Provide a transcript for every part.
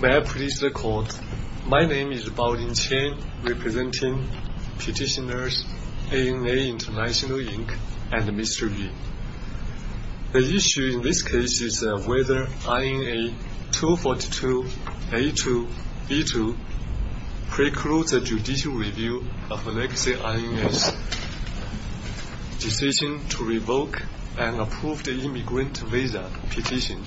May I please record, my name is Bao-Lin Chen, representing petitioners ANA International, Inc. and Mr. V. The issue in this case is whether INA 242-A2-B2 precludes a judicial review of legacy INA's decision to revoke an approved immigrant visa petition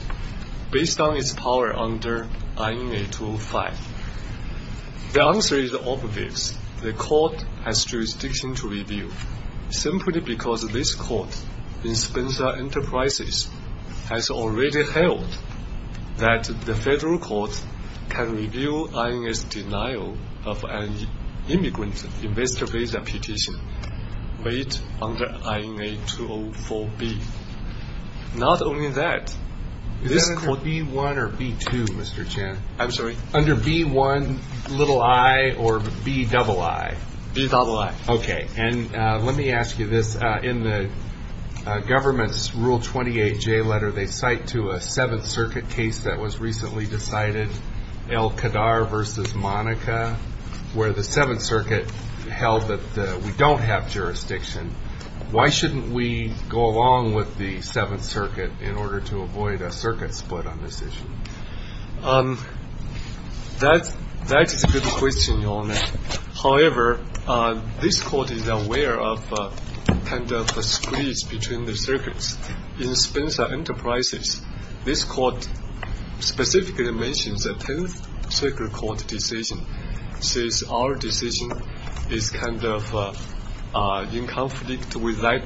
based on its power under INA 205. The answer is obvious. The court has jurisdiction to review, simply because this court in Spencer Enterprises has already held that the federal court can review INA's denial of an immigrant investor visa petition weighed under INA 204-B. Is that under INA 242-B1 or 242-B2, Mr. Chen? I'm sorry? Under INA 242-B1-I or 242-B-II? 242-B-II. Okay. And let me ask you this. In the government's Rule 28-J letter, they cite to a Seventh Circuit case that was recently decided, El-Kadar v. Monica, where the Seventh Circuit held that we don't have jurisdiction. Why shouldn't we go along with the Seventh Circuit in order to avoid a circuit split on this issue? That is a good question, Your Honor. However, this court is aware of kind of a split between the circuits. In Spencer Enterprises, this court specifically mentions a Tenth Circuit Court decision, says our decision is kind of in conflict with that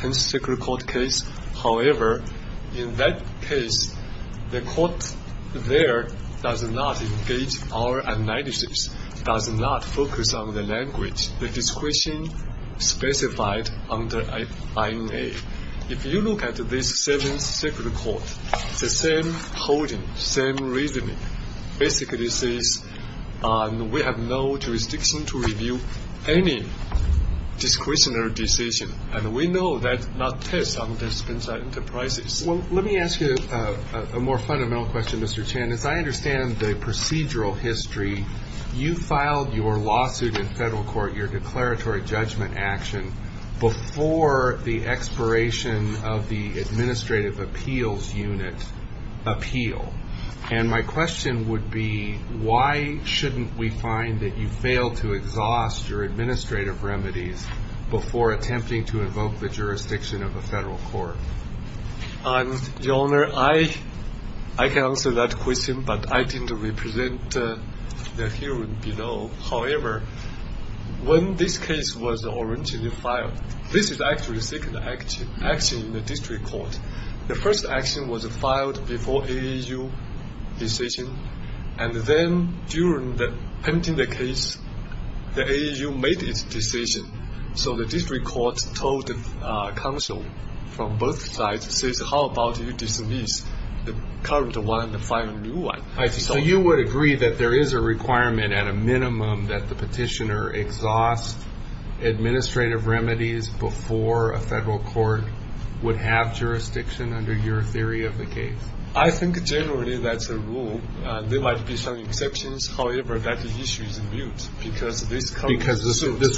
Tenth Circuit Court case. However, in that case, the court there does not engage our analysis, does not focus on the language, the discretion specified under INA. If you look at this Seventh Circuit Court, the same holding, same reasoning basically says we have no jurisdiction to review any discretionary decision, and we know that not test under Spencer Enterprises. Well, let me ask you a more fundamental question, Mr. Chen. As I understand the procedural history, you filed your lawsuit in federal court, your declaratory judgment action, before the expiration of the administrative appeals unit appeal. And my question would be, why shouldn't we find that you failed to exhaust your administrative remedies before attempting to invoke the jurisdiction of a federal court? Your Honor, I can answer that question, but I didn't represent the hearing below. However, when this case was originally filed, this is actually the second action in the district court. The first action was filed before the AAU decision, and then during the pending the case, the AAU made its decision. So the district court told the counsel from both sides, says, how about you dismiss the current one and file a new one? So you would agree that there is a requirement at a minimum that the petitioner exhaust administrative remedies before a federal court would have jurisdiction under your theory of the case? I think generally that's a rule. There might be some exceptions. However, that issue is mute because this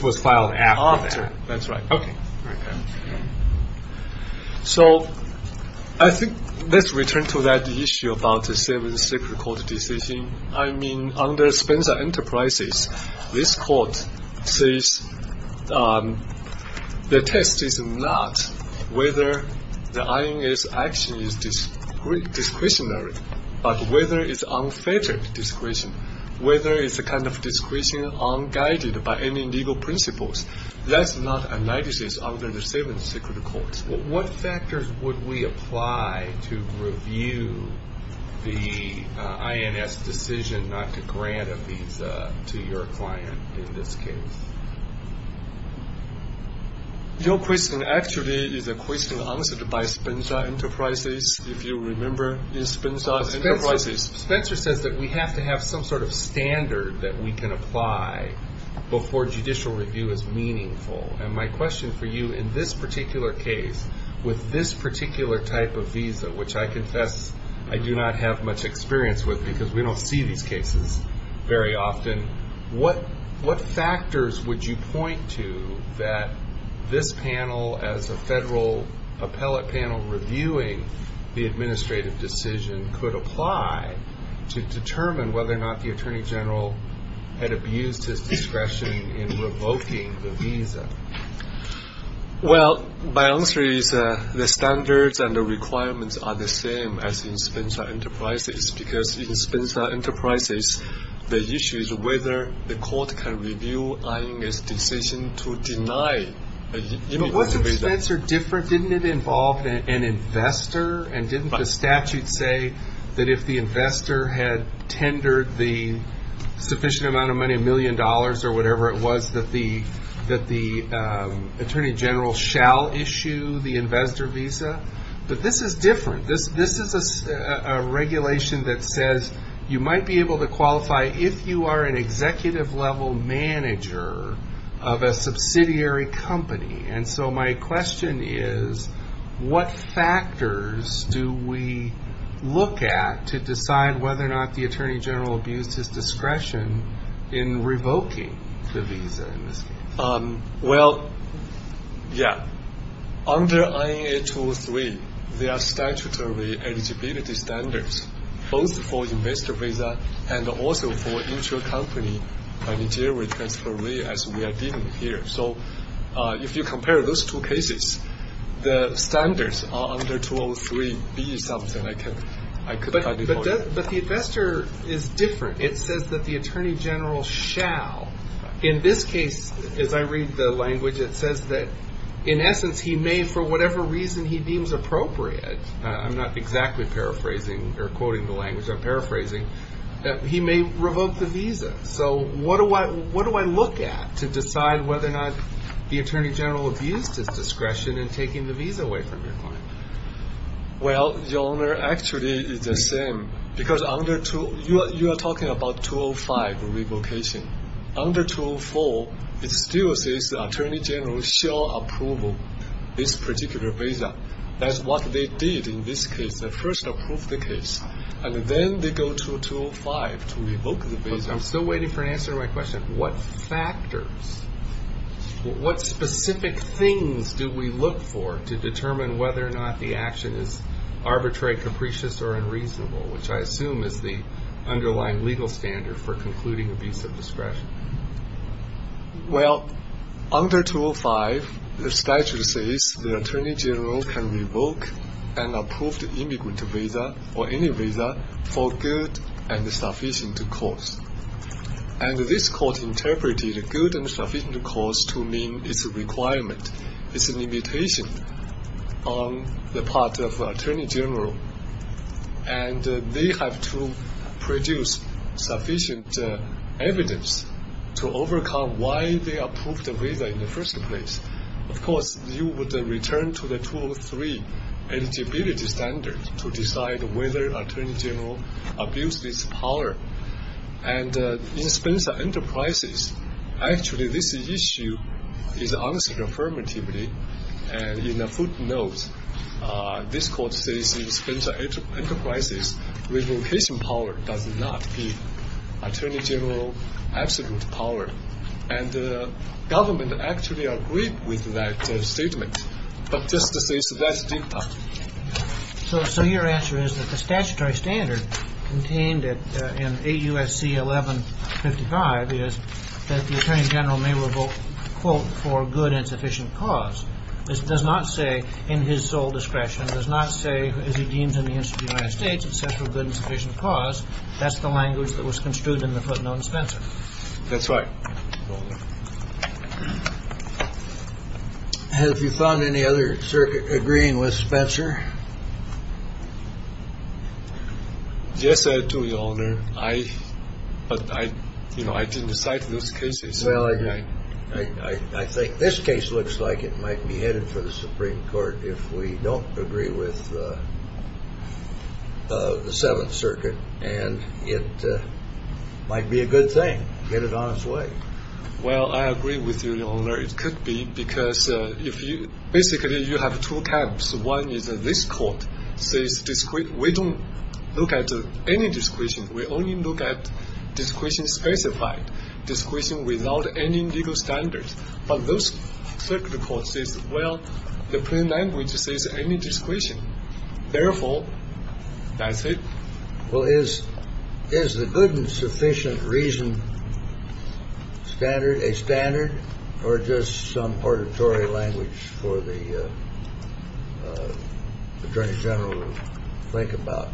was filed after. That's right. Okay. So I think let's return to that issue about the second court decision. I mean, under Spencer Enterprises, this court says the test is not whether the INS action is discretionary, but whether it's unfettered discretion, whether it's a kind of discretion unguided by any legal principles. That's not a nemesis under the seventh secret court. What factors would we apply to review the INS decision not to grant a visa to your client in this case? Your question actually is a question answered by Spencer Enterprises, if you remember, in Spencer Enterprises. Spencer says that we have to have some sort of standard that we can apply before judicial review is meaningful. And my question for you in this particular case, with this particular type of visa, which I confess I do not have much experience with because we don't see these cases very often, what factors would you point to that this panel as a federal appellate panel reviewing the administrative decision could apply to determine whether or not the Attorney General had abused his discretion in revoking the visa? Well, my answer is the standards and the requirements are the same as in Spencer Enterprises, because in Spencer Enterprises, the issue is whether the court can review INS decision to deny a visa. But wasn't Spencer different? Didn't it involve an investor? And didn't the statute say that if the investor had tendered the sufficient amount of money, a million dollars or whatever it was, that the Attorney General shall issue the investor visa? But this is different. This is a regulation that says you might be able to qualify if you are an executive level manager of a subsidiary company. And so my question is, what factors do we look at to decide whether or not the Attorney General abused his discretion in revoking the visa? Well, yeah. Under INA 203, there are statutory eligibility standards, both for investor visa and also for inter-company managerial transfer, as we are dealing with here. So if you compare those two cases, the standards are under 203B something. But the investor is different. It says that the Attorney General shall. In this case, as I read the language, it says that in essence he may, for whatever reason he deems appropriate, I'm not exactly paraphrasing or quoting the language I'm paraphrasing, that he may revoke the visa. So what do I look at to decide whether or not the Attorney General abused his discretion in taking the visa away from your client? Well, Your Honor, actually it's the same. Because under 203, you are talking about 205 revocation. Under 204, it still says the Attorney General shall approve this particular visa. That's what they did in this case. They first approved the case, and then they go to 205 to revoke the visa. I'm still waiting for an answer to my question. What factors, what specific things do we look for to determine whether or not the action is arbitrary, capricious, or unreasonable, which I assume is the underlying legal standard for concluding abuse of discretion? Well, under 205, the statute says the Attorney General can revoke an approved immigrant visa, or any visa, for good and sufficient cause. And this court interpreted good and sufficient cause to mean it's a requirement, it's a limitation on the part of the Attorney General, and they have to produce sufficient evidence to overcome why they approved the visa in the first place. Of course, you would return to the 203 eligibility standard to decide whether Attorney General abused his power. And in Spencer Enterprises, actually this issue is answered affirmatively, and in a footnote, this court says in Spencer Enterprises, revocation power does not give Attorney General absolute power. And the government actually agreed with that statement, but just to say it's that deep. So your answer is that the statutory standard contained in 8 U.S.C. 1155 is that the Attorney General may revoke, quote, for good and sufficient cause. This does not say, in his sole discretion, does not say, as he deems in the interest of the United States, it says for good and sufficient cause. That's the language that was construed in the footnote in Spencer. That's right. Have you found any other circuit agreeing with Spencer? Yes, I do, Your Honor. I, you know, I didn't cite those cases. Well, I think this case looks like it might be headed for the Supreme Court if we don't agree with the Seventh Circuit, and it might be a good thing to get it on its way. Well, I agree with you, Your Honor. It could be because if you – basically, you have two camps. One is this court says we don't look at any discretion. We only look at discretion specified, discretion without any legal standards. But those circuit courts says, well, the plain language says any discretion. Therefore, that's it. Well, is – is the good and sufficient reason standard – a standard or just some auditory language for the Attorney General to think about?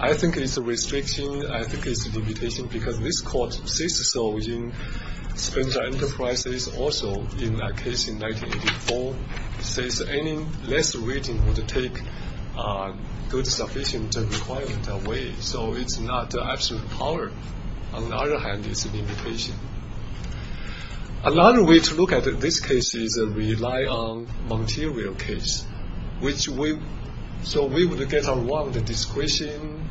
I think it's a restriction. I think it's a limitation because this court says so in Spencer Enterprises, also in that case in 1984. It says any less reading would take good sufficient requirement away, so it's not absolute power. On the other hand, it's a limitation. Another way to look at this case is rely on Montero case, which we – so we would get around the discretion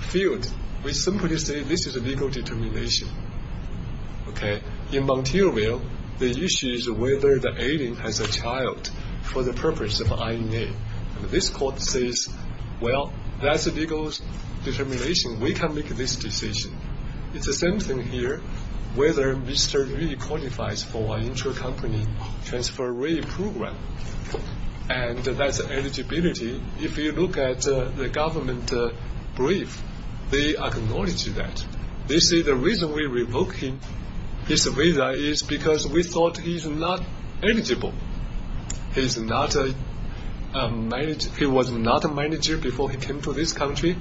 field. We simply say this is a legal determination, okay? In Monteroville, the issue is whether the alien has a child for the purpose of INA. And this court says, well, that's a legal determination. We can make this decision. It's the same thing here, whether Mr. Lee qualifies for an intercompany transfer rate program, and that's eligibility. If you look at the government brief, they acknowledge that. They say the reason we revoke his visa is because we thought he's not eligible. He's not a – he was not a manager before he came to this country.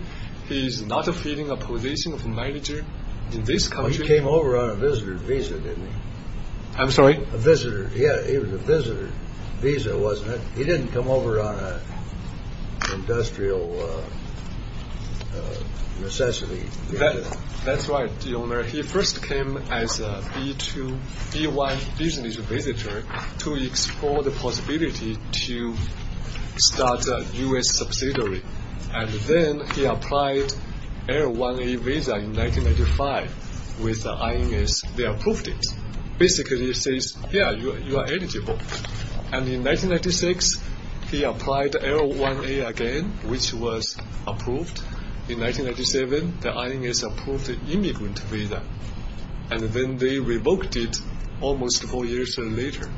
He is not filling a position of manager in this country. Well, he came over on a visitor visa, didn't he? I'm sorry? A visitor – yeah, he was a visitor visa, wasn't he? He didn't come over on an industrial necessity. That's right, Your Honor. He first came as a B-1 business visitor to explore the possibility to start a U.S. subsidiary. And then he applied L-1A visa in 1995 with INS. They approved it. Basically, it says, yeah, you are eligible. And in 1996, he applied L-1A again, which was approved. In 1997, the INS approved the immigrant visa. And then they revoked it almost four years later.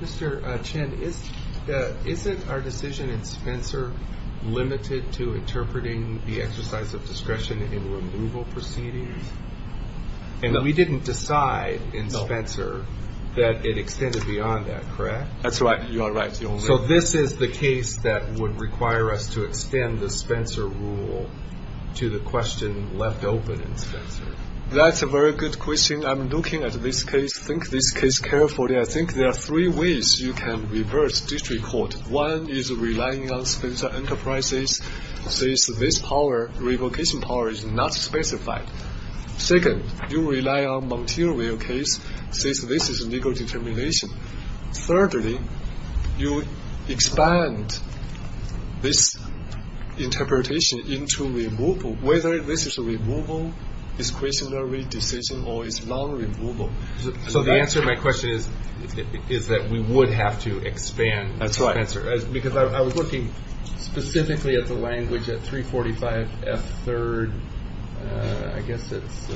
Mr. Chen, isn't our decision in Spencer limited to interpreting the exercise of discretion in removal proceedings? And we didn't decide in Spencer that it extended beyond that, correct? That's right. You are right. So this is the case that would require us to extend the Spencer rule to the question left open in Spencer. That's a very good question. I'm looking at this case, think this case carefully. I think there are three ways you can reverse district court. One is relying on Spencer Enterprises since this power, revocation power, is not specified. Second, you rely on Montero case since this is a legal determination. Thirdly, you expand this interpretation into removal. Whether this is removal, discretionary decision, or it's non-removal. So the answer to my question is that we would have to expand Spencer. That's right. Because I was looking specifically at the language at 345F3rd, I guess it's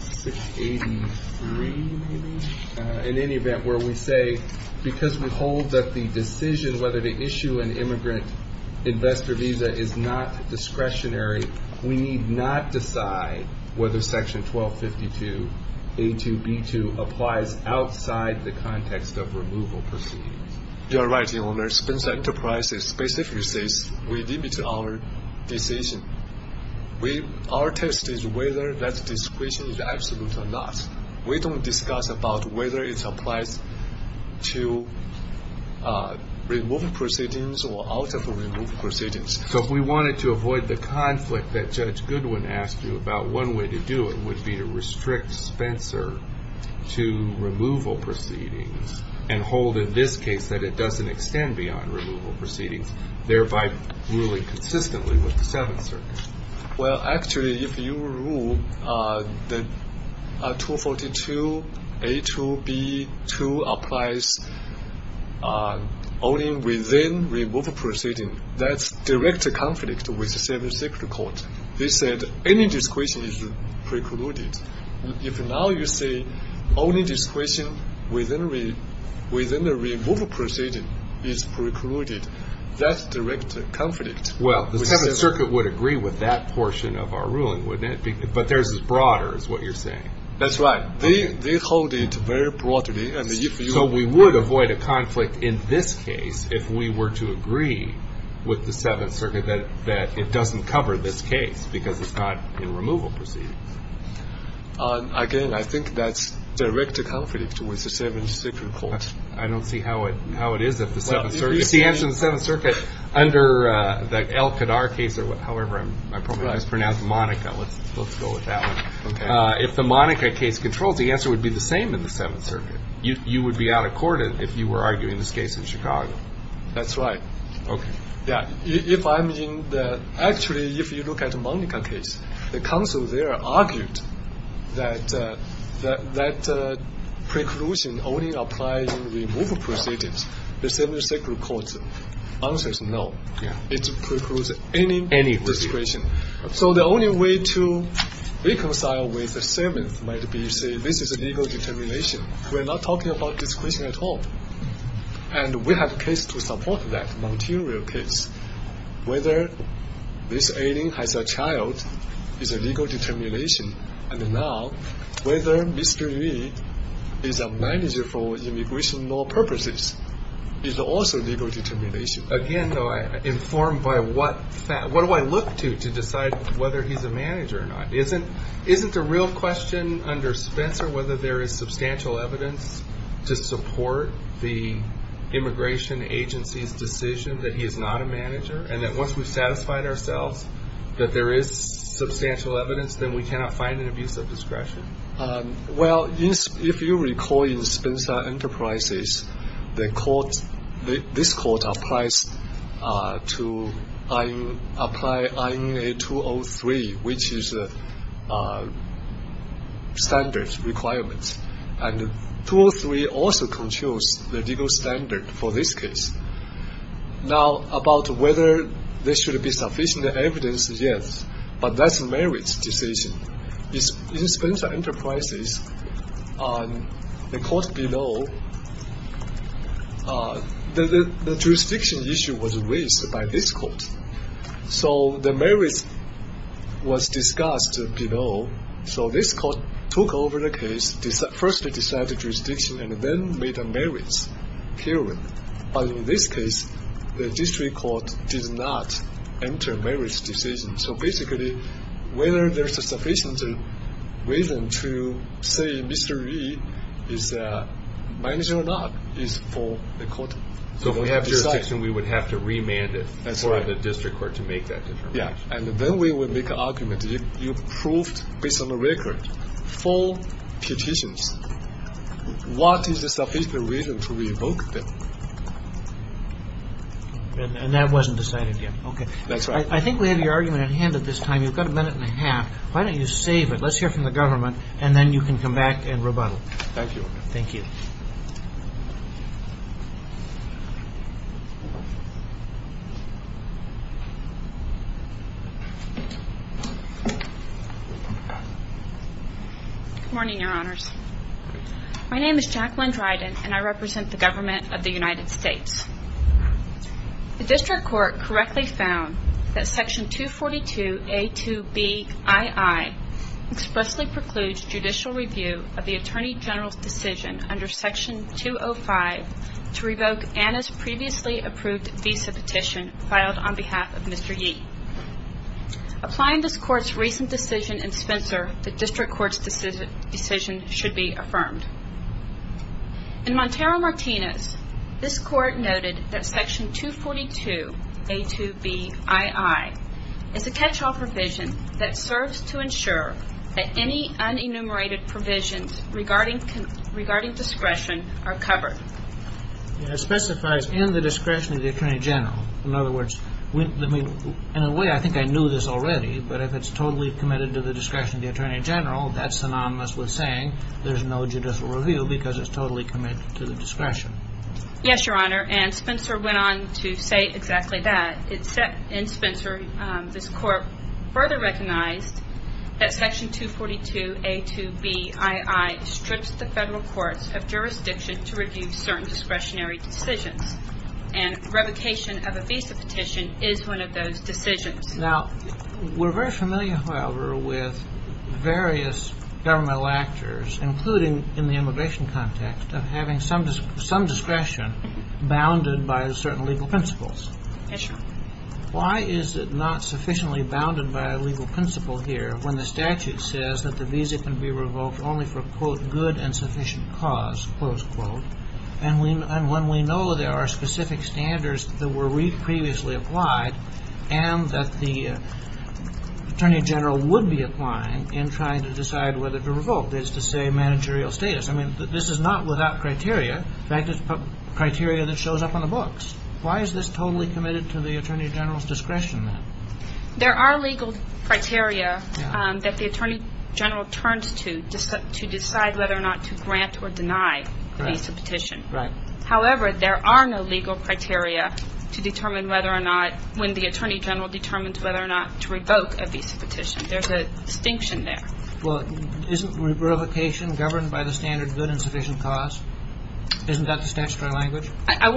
683, maybe? In any event, where we say because we hold that the decision whether to issue an immigrant investor visa is not discretionary, we need not decide whether Section 1252A2B2 applies outside the context of removal proceedings. You are right, Your Honor. Spencer Enterprises specifically says we limit our decision. Our test is whether that discretion is absolute or not. We don't discuss about whether it applies to removal proceedings or out of removal proceedings. So if we wanted to avoid the conflict that Judge Goodwin asked you about, one way to do it would be to restrict Spencer to removal proceedings and hold in this case that it doesn't extend beyond removal proceedings, thereby ruling consistently with the Seventh Circuit. Well, actually, if you rule that 242A2B2 applies only within removal proceedings, that's direct conflict with the Seventh Circuit Court. They said any discretion is precluded. If now you say only discretion within the removal proceedings is precluded, that's direct conflict. Well, the Seventh Circuit would agree with that portion of our ruling, wouldn't it? But theirs is broader is what you're saying. That's right. They hold it very broadly. So we would avoid a conflict in this case if we were to agree with the Seventh Circuit that it doesn't cover this case because it's not in removal proceedings. Again, I think that's direct conflict with the Seventh Circuit Court. I don't see how it is at the Seventh Circuit. Well, if you see answer in the Seventh Circuit under that El-Kadar case, or however my program is pronounced, Monica, let's go with that one. If the Monica case controls, the answer would be the same in the Seventh Circuit. You would be out of court if you were arguing this case in Chicago. That's right. Okay. Yeah. If I'm in the – actually, if you look at the Monica case, the counsel there argued that that preclusion only applies in removal proceedings. The Seventh Circuit Court answers no. It precludes any discretion. So the only way to reconcile with the Seventh might be to say this is a legal determination. We're not talking about discretion at all. And we have a case to support that, a material case. Whether this alien has a child is a legal determination, and now whether Mr. Yu is a manager for immigration law purposes is also a legal determination. Again, though, I'm informed by what – what do I look to to decide whether he's a manager or not? Isn't the real question under Spencer whether there is substantial evidence to support the immigration agency's decision that he is not a manager, and that once we've satisfied ourselves that there is substantial evidence, then we cannot find an abuse of discretion? Well, if you recall in Spencer Enterprises, the court – this court applies to – apply INA 203, which is a standard requirement. And 203 also controls the legal standard for this case. Now, about whether there should be sufficient evidence, yes. But that's a merits decision. In Spencer Enterprises, the court below – the jurisdiction issue was raised by this court. So the merits was discussed below. So this court took over the case, firstly decided the jurisdiction, and then made a merits hearing. But in this case, the district court did not enter a merits decision. So basically, whether there's a sufficient reason to say Mr. Li is a manager or not is for the court to decide. So if we have jurisdiction, we would have to remand it for the district court to make that determination? Yeah. And then we would make an argument. If you proved, based on the record, four petitions, what is the sufficient reason to revoke them? And that wasn't decided yet. That's right. I think we have your argument at hand at this time. You've got a minute and a half. Why don't you save it? Let's hear from the government, and then you can come back and rebuttal. Thank you, Your Honor. Thank you. Good morning, Your Honors. My name is Jacqueline Dryden, and I represent the government of the United States. The district court correctly found that Section 242A2Bii expressly precludes judicial review of the Attorney General's decision under Section 205 to revoke Anna's previously approved visa petition filed on behalf of Mr. Yee. Applying this court's recent decision in Spencer, the district court's decision should be affirmed. In Montero-Martinez, this court noted that Section 242A2Bii is a catch-all provision that serves to ensure that any unenumerated provisions regarding discretion are covered. It specifies in the discretion of the Attorney General. In other words, in a way, I think I knew this already, but if it's totally committed to the discretion of the Attorney General, that's synonymous with saying there's no judicial review because it's totally committed to the discretion. Yes, Your Honor, and Spencer went on to say exactly that. In Spencer, this court further recognized that Section 242A2Bii strips the federal courts of jurisdiction to review certain discretionary decisions, and revocation of a visa petition is one of those decisions. Now, we're very familiar, however, with various governmental actors, including in the immigration context, of having some discretion bounded by certain legal principles. Why is it not sufficiently bounded by a legal principle here when the statute says that the visa can be revoked only for, quote, good and sufficient cause, close quote, and when we know there are specific standards that were previously applied and that the Attorney General would be applying in trying to decide whether to revoke, is to say, managerial status? I mean, this is not without criteria. In fact, it's criteria that shows up on the books. Why is this totally committed to the Attorney General's discretion, then? There are legal criteria that the Attorney General turns to decide whether or not to grant or deny the visa petition. Right. However, there are no legal criteria to determine whether or not, when the Attorney General determines whether or not to revoke a visa petition. There's a distinction there. Well, isn't revocation governed by the standard good and sufficient cause? Isn't that the statutory language? I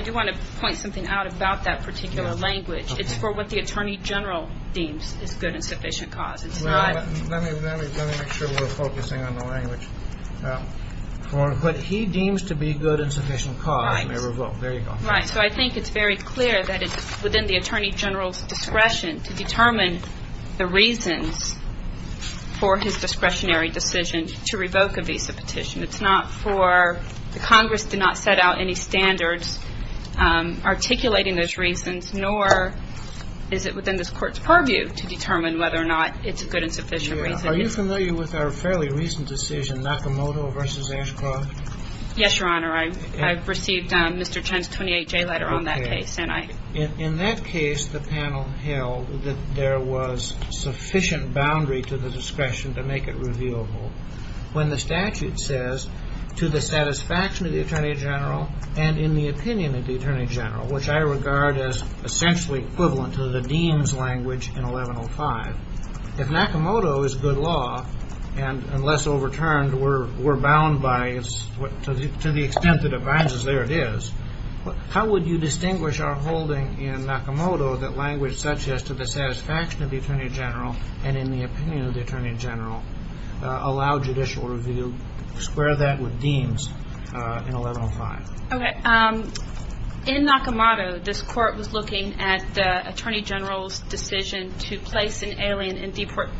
do want to point something out about that particular language. It's for what the Attorney General deems is good and sufficient cause. Let me make sure we're focusing on the language. But he deems to be good and sufficient cause when they revoke. Right. There you go. Right. So I think it's very clear that it's within the Attorney General's discretion to determine the reasons for his discretionary decision to revoke a visa petition. It's not for the Congress to not set out any standards articulating those reasons, nor is it within this Court's purview to determine whether or not it's a good and sufficient reason. Are you familiar with our fairly recent decision, Nakamoto v. Ashcroft? Yes, Your Honor. I received Mr. Chen's 28-J letter on that case. In that case, the panel held that there was sufficient boundary to the discretion to make it reviewable. When the statute says, to the satisfaction of the Attorney General and in the opinion of the Attorney General, which I regard as essentially equivalent to the deems language in 1105, if Nakamoto is good law and, unless overturned, we're bound by it to the extent that it binds us, there it is, how would you distinguish our holding in Nakamoto that language such as, to the satisfaction of the Attorney General and in the opinion of the Attorney General, allow judicial review, square that with deems in 1105? Okay. In Nakamoto, this Court was looking at the Attorney General's decision to place an alien in deportation.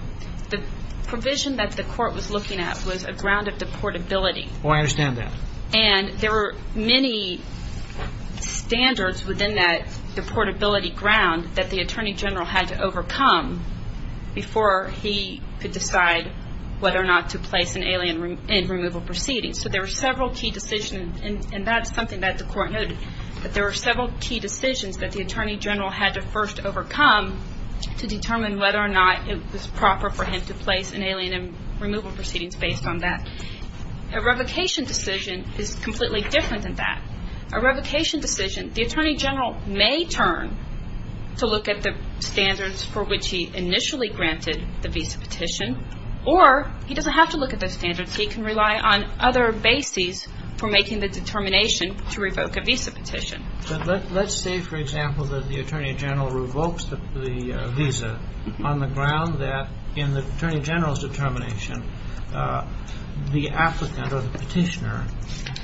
The provision that the Court was looking at was a ground of deportability. Oh, I understand that. And there were many standards within that deportability ground that the Attorney General had to overcome before he could decide whether or not to place an alien in removal proceedings. So there were several key decisions, and that's something that the Court noted, that there were several key decisions that the Attorney General had to first overcome to determine whether or not it was proper for him to place an alien in removal proceedings based on that. A revocation decision is completely different than that. A revocation decision, the Attorney General may turn to look at the standards for which he initially granted the visa petition, or he doesn't have to look at those standards. He can rely on other bases for making the determination to revoke a visa petition. Let's say, for example, that the Attorney General revokes the visa on the ground that, in the Attorney General's determination, the applicant or the petitioner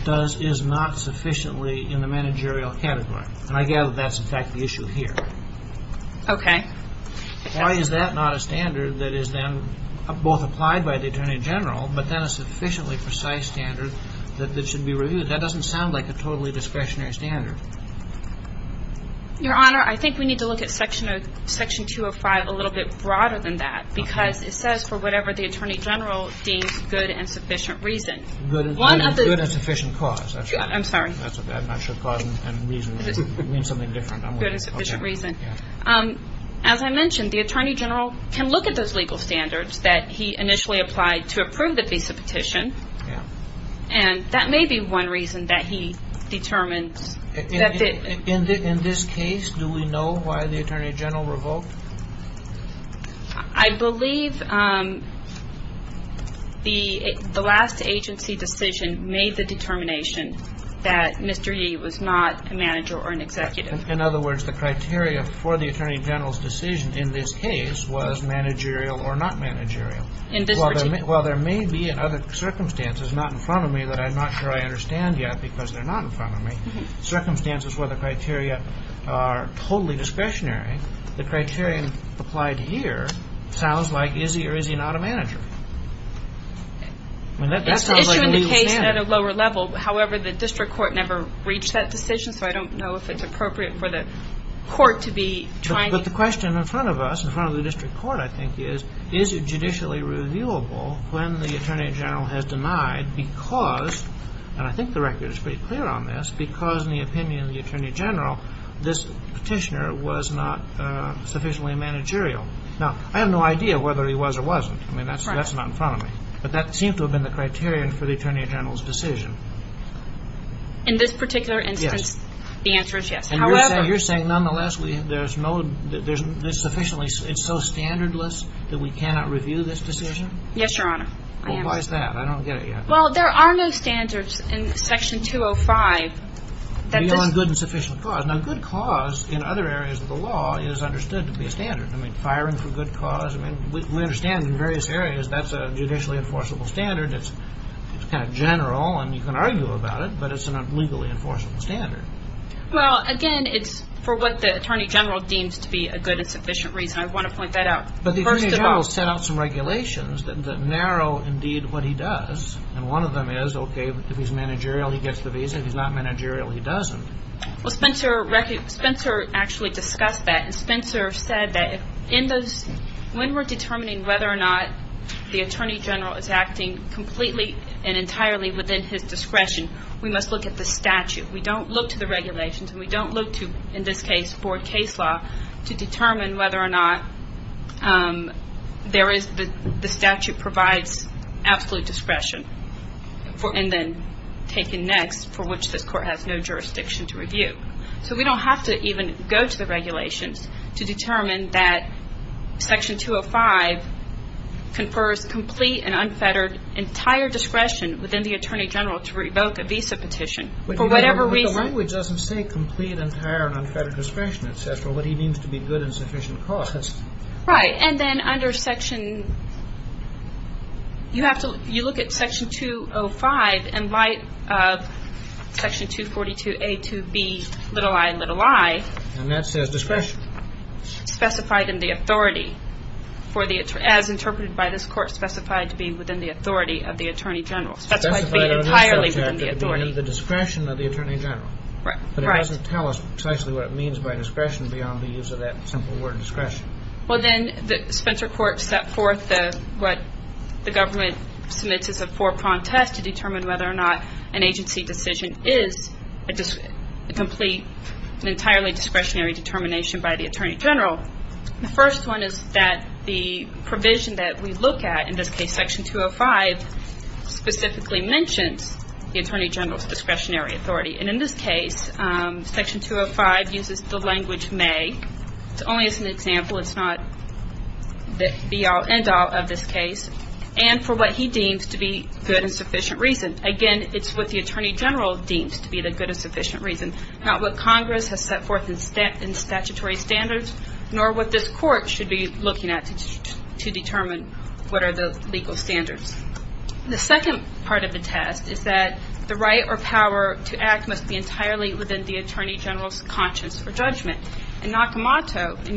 is not sufficiently in the managerial category. And I gather that's, in fact, the issue here. Okay. Why is that not a standard that is then both applied by the Attorney General, but then a sufficiently precise standard that should be reviewed? That doesn't sound like a totally discretionary standard. Your Honor, I think we need to look at Section 205 a little bit broader than that because it says, for whatever the Attorney General deems good and sufficient reason. Good and sufficient cause. I'm sorry. I'm not sure cause and reason means something different. Good and sufficient reason. As I mentioned, the Attorney General can look at those legal standards that he initially applied to approve the visa petition, and that may be one reason that he determines. In this case, do we know why the Attorney General revoked? I believe the last agency decision made the determination that Mr. Yee was not a manager or an executive. In other words, the criteria for the Attorney General's decision in this case was managerial or not managerial. While there may be other circumstances not in front of me that I'm not sure I understand yet because they're not in front of me, circumstances where the criteria are totally discretionary, the criterion applied here sounds like, is he or is he not a manager? That sounds like a legal standard. It's an issue in the case at a lower level. However, the district court never reached that decision, so I don't know if it's appropriate for the court to be trying. But the question in front of us, in front of the district court, I think, is is it judicially reviewable when the Attorney General has denied because, and I think the record is pretty clear on this, because in the opinion of the Attorney General, this petitioner was not sufficiently managerial. Now, I have no idea whether he was or wasn't. I mean, that's not in front of me. But that seems to have been the criterion for the Attorney General's decision. In this particular instance, the answer is yes. And you're saying, nonetheless, there's no, there's sufficiently, it's so standardless that we cannot review this decision? Yes, Your Honor. Well, why is that? I don't get it yet. Well, there are no standards in Section 205. Good and sufficient cause. Now, good cause in other areas of the law is understood to be a standard. I mean, firing for good cause. I mean, we understand in various areas that's a judicially enforceable standard. It's kind of general, and you can argue about it, but it's a legally enforceable standard. Well, again, it's for what the Attorney General deems to be a good and sufficient reason. I want to point that out. But the Attorney General set out some regulations that narrow, indeed, what he does. And one of them is, okay, if he's managerial, he gets the visa. If he's not managerial, he doesn't. Well, Spencer actually discussed that. And Spencer said that when we're determining whether or not the Attorney General is acting completely and entirely within his discretion, we must look at the statute. We don't look to the regulations, and we don't look to, in this case, board case law to determine whether or not the statute provides absolute discretion and then taken next, for which this Court has no jurisdiction to review. So we don't have to even go to the regulations to determine that Section 205 confers complete and unfettered entire discretion within the Attorney General to revoke a visa petition for whatever reason. But the language doesn't say complete, entire, and unfettered discretion. It says what he means to be good and sufficient cost. Right. And then under Section – you have to – you look at Section 205 in light of Section 242A to B, little i and little i. And that says discretion. Specified in the authority for the – as interpreted by this Court, specified to be within the authority of the Attorney General. Specified on this subject to be within the discretion of the Attorney General. Right. But it doesn't tell us precisely what it means by discretion beyond the use of that simple word discretion. Well, then the Spencer Court set forth what the government submits as a four-pronged test to determine whether or not an agency decision is a complete and entirely discretionary determination by the Attorney General. The first one is that the provision that we look at, in this case Section 205, specifically mentions the Attorney General's discretionary authority. And in this case, Section 205 uses the language may. It's only as an example. It's not the be-all, end-all of this case. And for what he deems to be good and sufficient reason. Again, it's what the Attorney General deems to be the good and sufficient reason, not what Congress has set forth in statutory standards nor what this Court should be looking at to determine what are the legal standards. The second part of the test is that the right or power to act must be entirely within the Attorney General's conscience or judgment and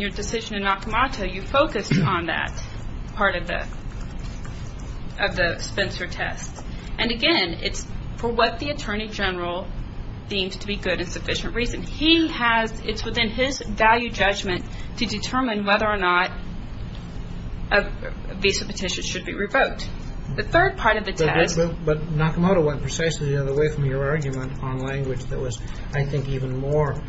your decision in Nakamoto, you focused on that part of the Spencer test. And again, it's for what the Attorney General deems to be good and sufficient reason. It's within his value judgment to determine whether or not a visa petition should be revoked. The third part of the test. But Nakamoto went precisely the other way from your argument on language that was, I think, even more,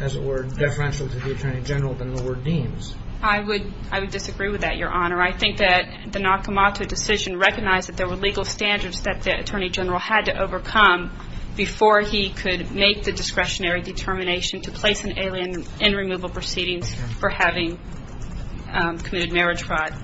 as it were, differential to the Attorney General than the word deems. I would disagree with that, Your Honor. I think that the Nakamoto decision recognized that there were legal standards that the Attorney General had to overcome before he could make the discretionary determination to place an alien in removal proceedings for having committed marriage fraud.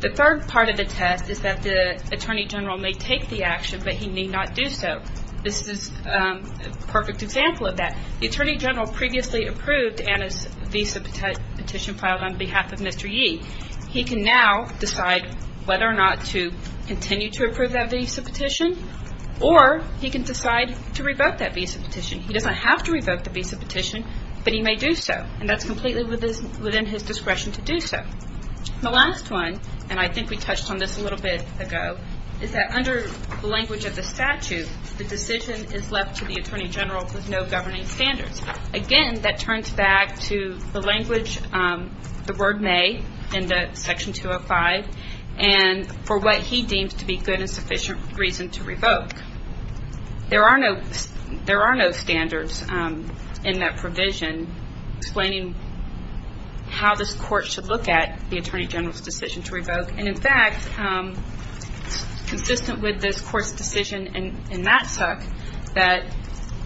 The third part of the test is that the Attorney General may take the action, but he may not do so. This is a perfect example of that. The Attorney General previously approved Anna's visa petition filed on behalf of Mr. Yee. He can now decide whether or not to continue to approve that visa petition or he can decide to revoke that visa petition. He doesn't have to revoke the visa petition, but he may do so, and that's completely within his discretion to do so. The last one, and I think we touched on this a little bit ago, is that under the language of the statute, the decision is left to the Attorney General with no governing standards. Again, that turns back to the language, the word may in Section 205, and for what he deems to be good and sufficient reason to revoke. There are no standards in that provision explaining how this court should look at the Attorney General's decision to revoke. And, in fact, consistent with this court's decision in Matsock, that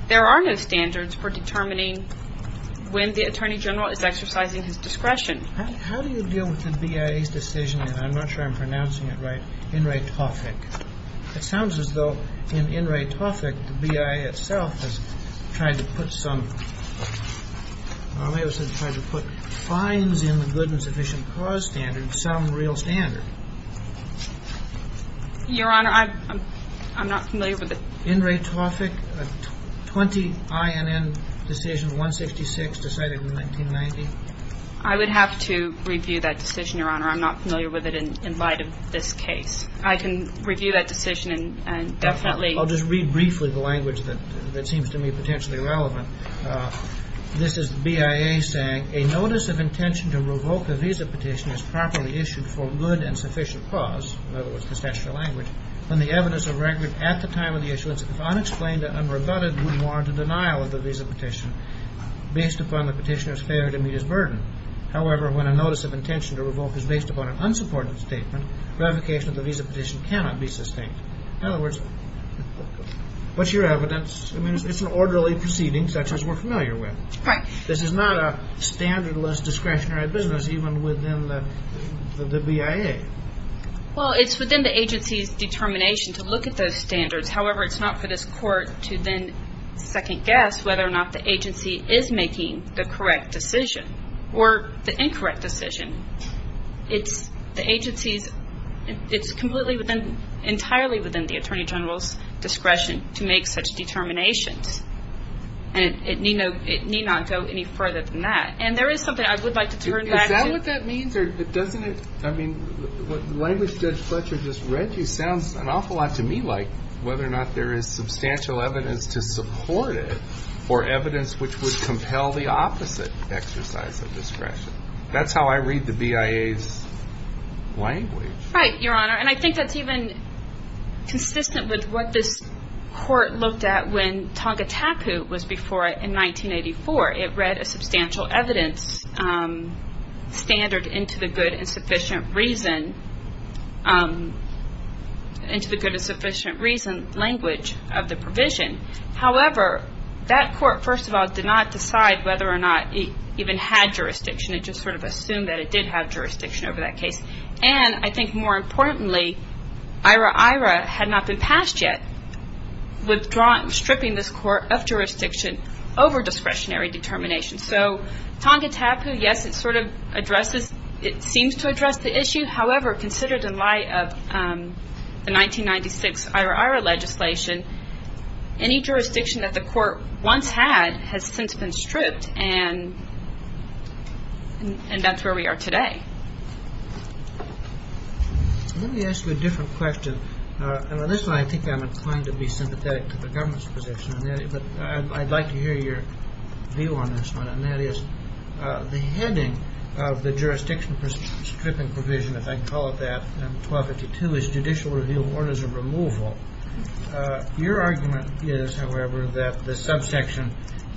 there are no standards for determining when the Attorney General is exercising his discretion. How do you deal with the BIA's decision, and I'm not sure I'm pronouncing it right, in Ray Toffik? It sounds as though in Ray Toffik the BIA itself has tried to put some, or may have tried to put fines in the good and sufficient cause standard, some real standard. Your Honor, I'm not familiar with it. In Ray Toffik, a 20 INN decision, 166, decided in 1990. I would have to review that decision, Your Honor. I'm not familiar with it in light of this case. I can review that decision and definitely I'll just read briefly the language that seems to me potentially relevant. This is BIA saying, A notice of intention to revoke a visa petition is properly issued for good and sufficient cause, in other words, the statutory language, when the evidence of record at the time of the issuance, if unexplained or unrebutted, would warrant a denial of the visa petition based upon the petitioner's failure to meet his burden. However, when a notice of intention to revoke is based upon an unsupported statement, revocation of the visa petition cannot be sustained. In other words, what's your evidence? I mean, it's an orderly proceeding such as we're familiar with. Right. This is not a standardless discretionary business even within the BIA. Well, it's within the agency's determination to look at those standards. However, it's not for this court to then second guess whether or not the agency is making the correct decision or the incorrect decision. It's the agency's, it's completely within, entirely within the attorney general's discretion to make such determinations. And it need not go any further than that. And there is something I would like to turn back to. Is that what that means or doesn't it, I mean, what language Judge Fletcher just read you sounds an awful lot to me like whether or not there is substantial evidence to support it or evidence which would compel the opposite exercise of discretion. That's how I read the BIA's language. Right, Your Honor. And I think that's even consistent with what this court looked at when Tonga Tapu was before it in 1984. It read a substantial evidence standard into the good and sufficient reason, into the good and sufficient reason language of the provision. However, that court, first of all, did not decide whether or not it even had jurisdiction. It just sort of assumed that it did have jurisdiction over that case. And I think more importantly, IRA-IRA had not been passed yet, withdrawn, stripping this court of jurisdiction over discretionary determination. So Tonga Tapu, yes, it sort of addresses, it seems to address the issue. However, considered in light of the 1996 IRA-IRA legislation, any jurisdiction that the court once had has since been stripped. And that's where we are today. Let me ask you a different question. And on this one, I think I'm inclined to be sympathetic to the government's position. But I'd like to hear your view on this one. And that is the heading of the jurisdiction stripping provision, if I can call it that, in 1252, is judicial review of orders of removal. Your argument is, however, that the subsection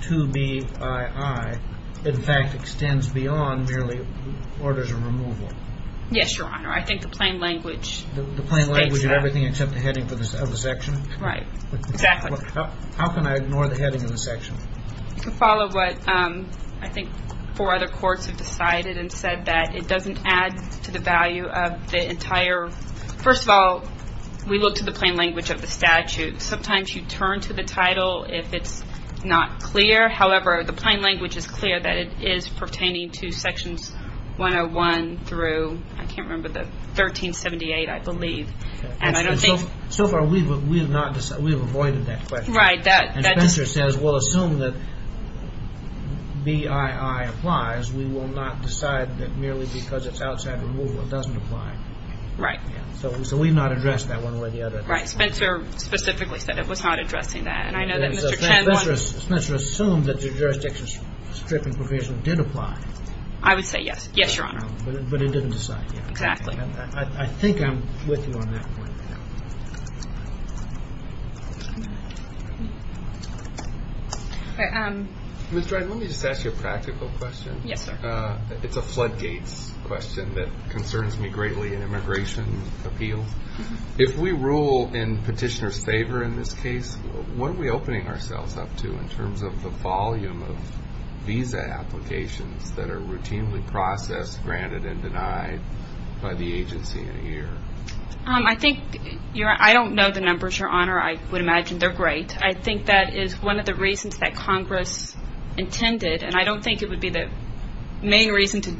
2BII, in fact, extends beyond merely orders of removal. Yes, Your Honor. I think the plain language states that. The plain language of everything except the heading of the section? Right. Exactly. How can I ignore the heading of the section? You can follow what I think four other courts have decided and said, that it doesn't add to the value of the entire. First of all, we look to the plain language of the statute. Sometimes you turn to the title if it's not clear. However, the plain language is clear that it is pertaining to sections 101 through, I can't remember, 1378, I believe. Right. And Spencer says, we'll assume that BII applies. We will not decide that merely because it's outside removal it doesn't apply. Right. So we've not addressed that one way or the other. Right. Spencer specifically said it was not addressing that. And I know that Mr. Tenlon Spencer assumed that the jurisdiction stripping provision did apply. I would say yes. Yes, Your Honor. But it didn't decide. Exactly. I think I'm with you on that point. Ms. Dryden, let me just ask you a practical question. Yes, sir. It's a floodgates question that concerns me greatly in immigration appeals. If we rule in petitioner's favor in this case, what are we opening ourselves up to in terms of the volume of visa applications that are routinely processed, granted, and denied by the agency in a year? I think, I don't know the numbers, Your Honor. I would imagine they're great. I think that is one of the reasons that Congress intended, and I don't think it would be the main reason to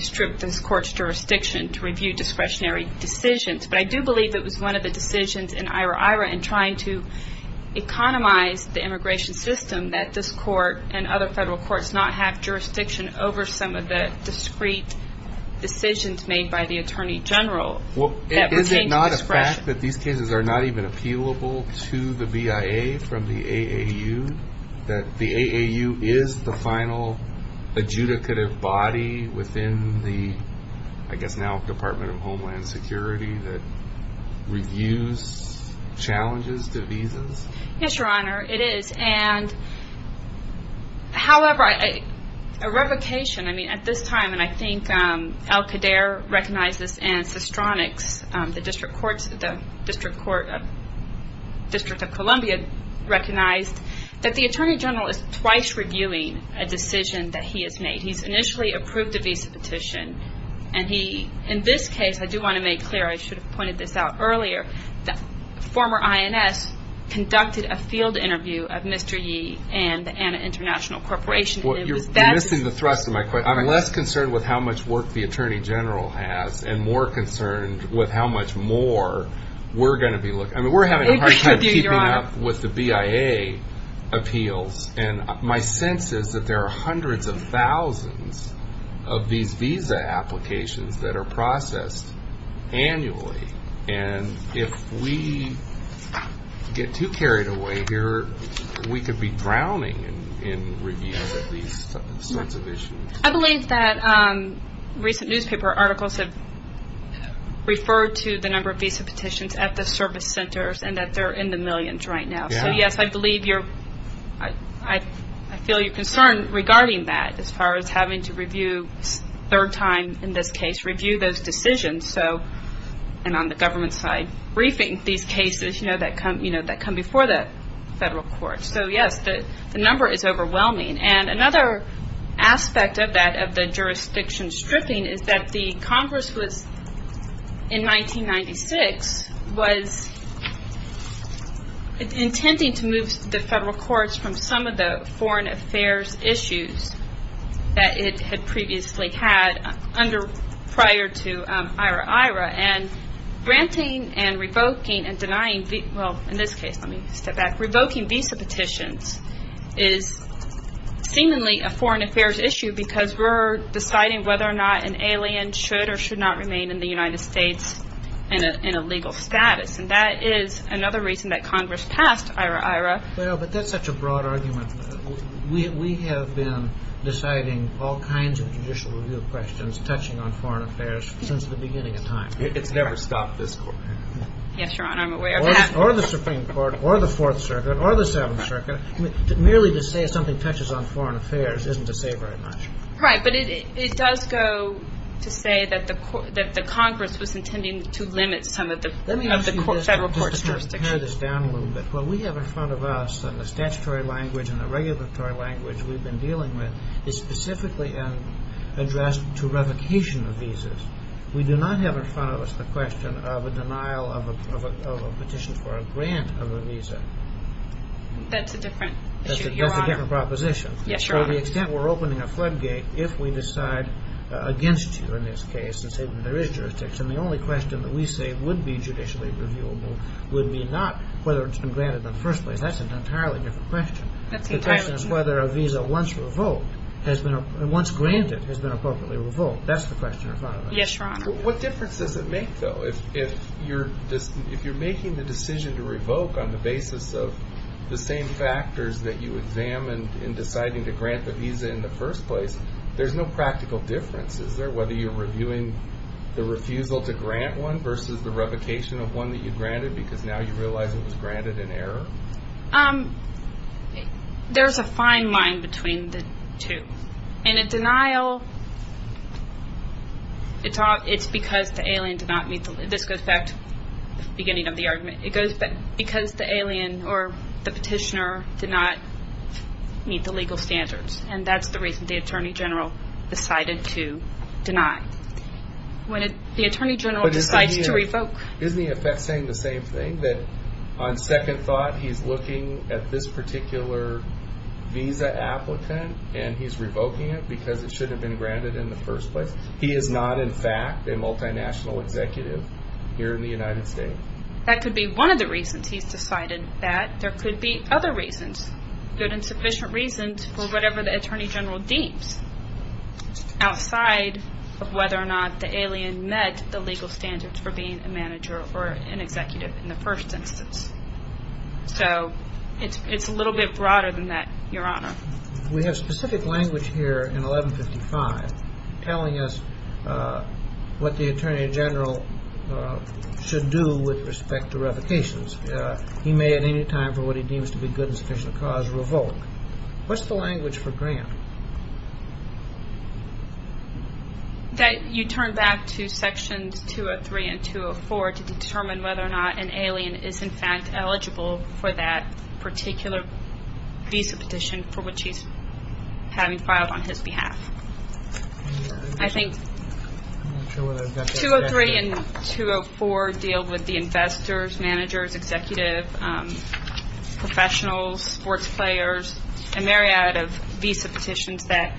strip this court's jurisdiction, to review discretionary decisions. But I do believe it was one of the decisions in IRA-IRA in trying to economize the immigration system that this court and other federal courts not have jurisdiction over some of the discreet decisions made by the Attorney General that would change the discretion. Is it not a fact that these cases are not even appealable to the BIA from the AAU? That the AAU is the final adjudicative body within the, I guess now, Department of Homeland Security that reviews challenges to visas? Yes, Your Honor, it is. However, a revocation at this time, and I think Al Qaedaer recognizes and Sestronix, the District of Columbia, recognized that the Attorney General is twice reviewing a decision that he has made. He's initially approved a visa petition, and he, in this case, I do want to make clear, I should have pointed this out earlier, that former INS conducted a field interview of Mr. Yee and the Anna International Corporation. You're missing the thrust of my question. I'm less concerned with how much work the Attorney General has and more concerned with how much more we're going to be looking. I mean, we're having a hard time keeping up with the BIA appeals, and my sense is that there are hundreds of thousands of these visa applications that are processed annually, and if we get too carried away here, we could be drowning in reviews of these sorts of issues. I believe that recent newspaper articles have referred to the number of visa petitions at the service centers and that they're in the millions right now. So, yes, I believe you're, I feel your concern regarding that as far as having to review a third time in this case, review those decisions, and on the government side, briefing these cases that come before the federal courts. So, yes, the number is overwhelming. And another aspect of that, of the jurisdiction stripping, is that the Congress was, in 1996, was intending to move the federal courts from some of the foreign affairs issues that it had previously had under, prior to IRA-IRA, and granting and revoking and denying, well, in this case, let me step back, revoking visa petitions is seemingly a foreign affairs issue because we're deciding whether or not an alien should or should not remain in the United States in a legal status, and that is another reason that Congress passed IRA-IRA. Well, but that's such a broad argument. We have been deciding all kinds of judicial review questions touching on foreign affairs since the beginning of time. It's never stopped this court. Yes, Your Honor, I'm aware of that. Or the Supreme Court, or the Fourth Circuit, or the Seventh Circuit. Merely to say something touches on foreign affairs isn't to say very much. Right, but it does go to say that the Congress was intending to limit some of the federal courts' jurisdiction. Let me just pare this down a little bit. What we have in front of us in the statutory language and the regulatory language we've been dealing with is specifically addressed to revocation of visas. We do not have in front of us the question of a denial of a petition for a grant of a visa. That's a different issue, Your Honor. That's a different proposition. Yes, Your Honor. To the extent we're opening a floodgate, if we decide against you in this case and say that there is jurisdiction, the only question that we say would be judicially reviewable would be not whether it's been granted in the first place. That's an entirely different question. That's entirely true. The question is whether a visa once revoked, once granted, has been appropriately revoked. That's the question in front of us. Yes, Your Honor. What difference does it make, though? If you're making the decision to revoke on the basis of the same factors that you examined in deciding to grant the visa in the first place, there's no practical difference. Is there, whether you're reviewing the refusal to grant one versus the revocation of one that you granted because now you realize it was granted in error? There's a fine line between the two. In a denial, it's because the alien did not meet the legal standards. This goes back to the beginning of the argument. It goes back because the alien or the petitioner did not meet the legal standards, and that's the reason the Attorney General decided to deny. When the Attorney General decides to revoke. Isn't he, in effect, saying the same thing, that on second thought, he's looking at this particular visa applicant and he's revoking it because it should have been granted in the first place? He is not, in fact, a multinational executive here in the United States. That could be one of the reasons he's decided that. There could be other reasons, good and sufficient reasons, for whatever the Attorney General deems, outside of whether or not the alien met the legal standards for being a manager or an executive in the first instance. So it's a little bit broader than that, Your Honor. We have specific language here in 1155 telling us what the Attorney General should do with respect to revocations. He may at any time, for what he deems to be good and sufficient cause, revoke. What's the language for grant? That you turn back to Sections 203 and 204 to determine whether or not an alien is, in fact, eligible for that particular visa petition for which he's having filed on his behalf. I think 203 and 204 deal with the investors, managers, executive, professionals, sports players, and a myriad of visa petitions that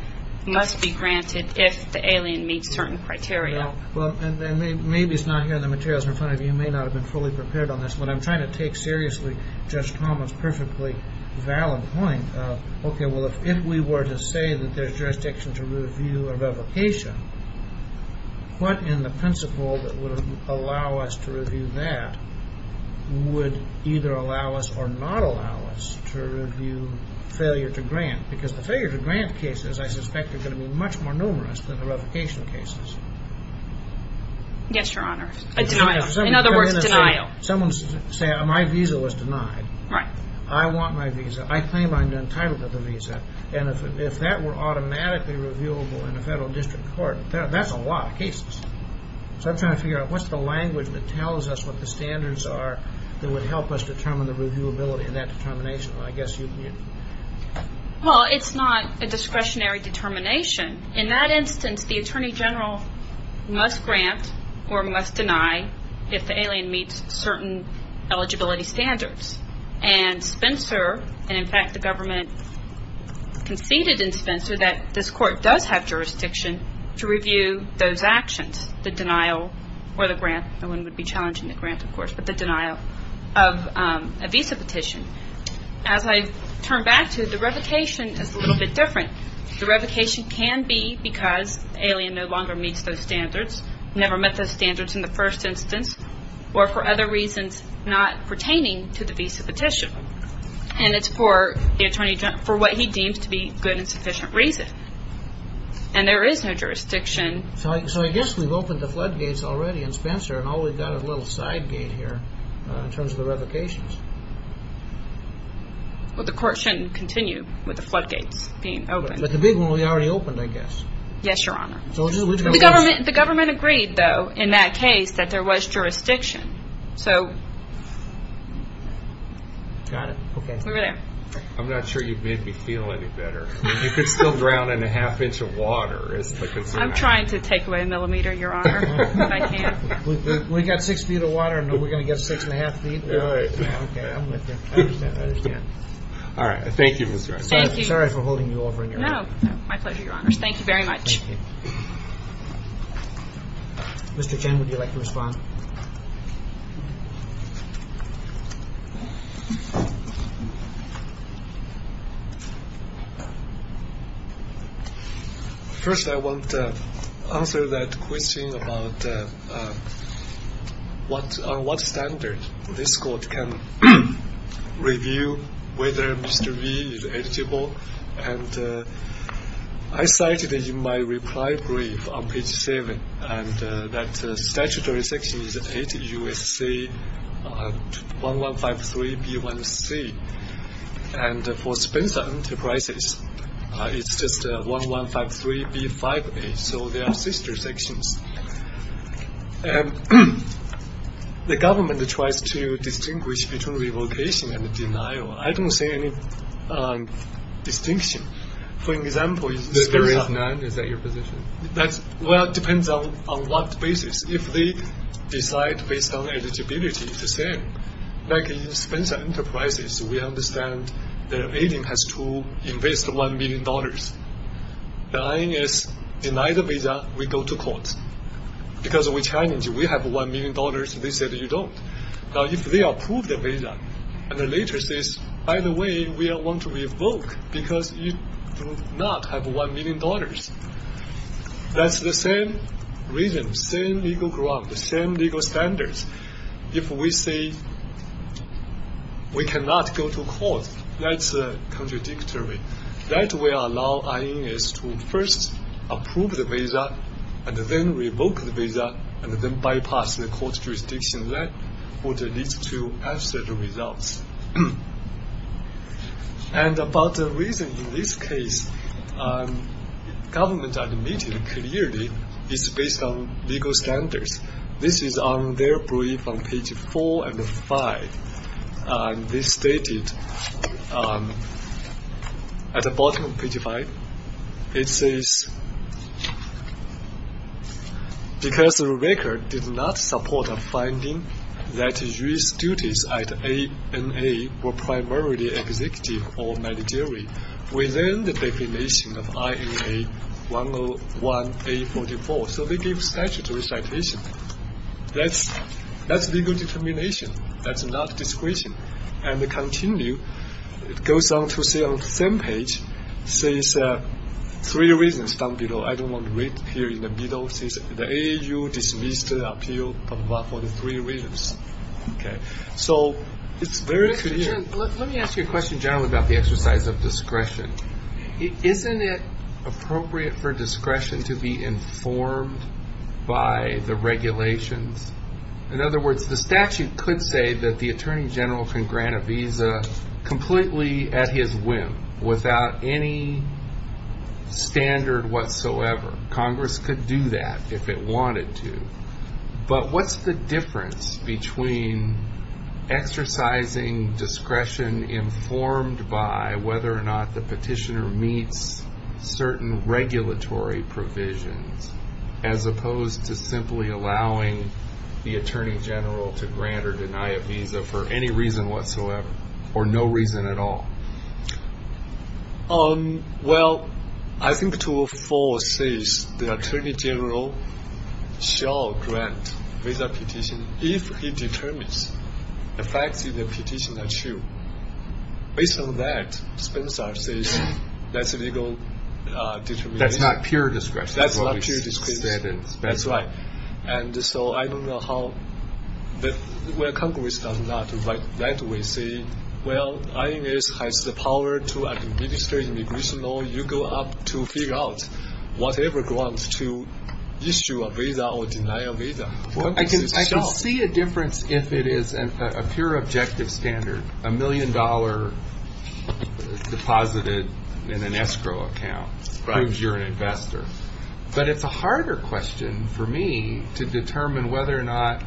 must be granted if the alien meets certain criteria. Well, and maybe it's not here in the materials in front of you. You may not have been fully prepared on this, but I'm trying to take seriously Judge Thomas' perfectly valid point of, okay, well, if we were to say that there's jurisdiction to review a revocation, what in the principle that would allow us to review that would either allow us or not allow us to review failure to grant? Because the failure to grant cases, I suspect, are going to be much more numerous than the revocation cases. Yes, Your Honor. In other words, denial. Someone's going to say, my visa was denied. I want my visa. I claim I'm entitled to the visa. And if that were automatically reviewable in a federal district court, that's a lot of cases. So I'm trying to figure out what's the language that tells us what the standards are that would help us determine the reviewability in that determination. Well, I guess you can answer that. Well, it's not a discretionary determination. In that instance, the Attorney General must grant or must deny if the alien meets certain eligibility standards. jurisdiction to review those actions, the denial or the grant. No one would be challenging the grant, of course, but the denial of a visa petition. As I turn back to it, the revocation is a little bit different. The revocation can be because the alien no longer meets those standards, never met those standards in the first instance, or for other reasons not pertaining to the visa petition. And it's for what he deems to be good and sufficient reason. And there is no jurisdiction. So I guess we've opened the floodgates already in Spencer and all we've got is a little side gate here in terms of the revocations. Well, the court shouldn't continue with the floodgates being opened. But the big one we already opened, I guess. Yes, Your Honor. The government agreed, though, in that case, that there was jurisdiction. Got it. Okay. We're there. I'm not sure you made me feel any better. You could still drown in a half inch of water is the concern. I'm trying to take away a millimeter, Your Honor, but I can't. We've got six feet of water and we're going to get six and a half feet? All right. Okay, I'm with you. I understand. I understand. All right. Thank you, Ms. Rice. Thank you. Sorry for holding you over in your own. Thank you very much. Thank you. Mr. Chen, would you like to respond? No. First, I want to answer that question about on what standard this court can review whether Mr. V is eligible. And I cited in my reply brief on page 7 that statutory section is 8 U.S.C. 1153 B1C. And for Spencer Enterprises, it's just 1153 B5A, so they are sister sections. The government tries to distinguish between revocation and denial. I don't see any distinction. For example, is it 9? Is that your position? Well, it depends on what basis. If they decide based on eligibility, it's the same. Like in Spencer Enterprises, we understand the agent has to invest $1 million. The I.N.S. denied the visa, we go to court. Because we challenge you. We have $1 million. They said you don't. Now, if they approve the visa and later says, by the way, we want to revoke because you do not have $1 million, that's the same reason, same legal ground, same legal standards. If we say we cannot go to court, that's contradictory. That will allow I.N.S. to first approve the visa and then revoke the visa and then bypass the court jurisdiction. That would lead to absolute results. And about the reason in this case, government admitted clearly it's based on legal standards. This is on their brief on page 4 and 5. This is stated at the bottom of page 5. It says, because the record did not support a finding that U.S. duties at ANA were primarily executive or managerial within the definition of INA 101-A44. So they give statutory citation. That's legal determination. That's not discretion. And they continue. It goes on to the same page. It says three reasons down below. I don't want to read here in the middle. It says the AAU dismissed the appeal for the three reasons. Okay. So it's very clear. Let me ask you a question, John, about the exercise of discretion. Isn't it appropriate for discretion to be informed by the regulations? In other words, the statute could say that the attorney general can grant a visa completely at his whim without any standard whatsoever. Congress could do that if it wanted to. But what's the difference between exercising discretion informed by whether or not the petitioner meets certain regulatory provisions as opposed to simply allowing the attorney general to grant or deny a visa for any reason whatsoever or no reason at all? Well, I think 204 says the attorney general shall grant visa petition if he determines the facts of the petition are true. Based on that, Spencer says that's legal determination. That's not pure discretion. That's not pure discretion. That's right. And so I don't know how Congress does that. We say, well, INS has the power to administer immigration law. You go up to figure out whatever grant to issue a visa or deny a visa. I can see a difference if it is a pure objective standard. A million-dollar deposit in an escrow account proves you're an investor. But it's a harder question for me to determine whether or not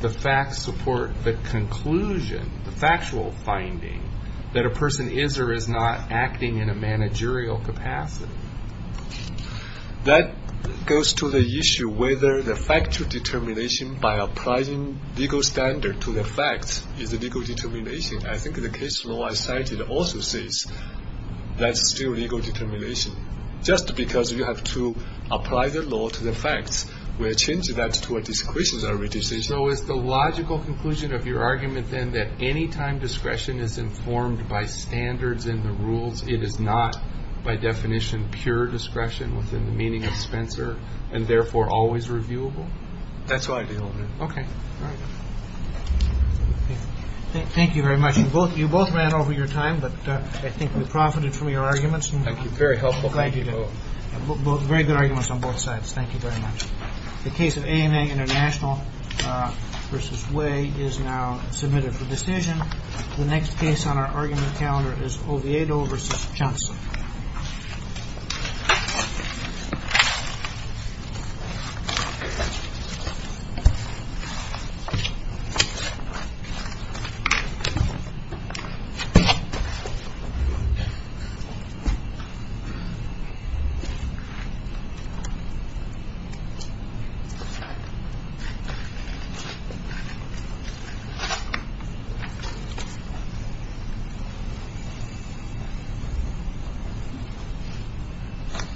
the facts support the conclusion, the factual finding, that a person is or is not acting in a managerial capacity. That goes to the issue whether the factual determination by applying legal standard to the facts is legal determination. I think the case law I cited also says that's still legal determination. Just because you have to apply the law to the facts will change that to a discretionary decision. So is the logical conclusion of your argument, then, that anytime discretion is informed by standards and the rules, it is not by definition pure discretion within the meaning of Spencer and therefore always reviewable? That's what I deal with. OK. Thank you very much. You both ran over your time, but I think we profited from your arguments. Thank you. Very helpful. Glad you did. Very good arguments on both sides. Thank you very much. The case of AMA International versus Way is now submitted for decision. The next case on our argument calendar is Oviedo versus Johnson. Thank you.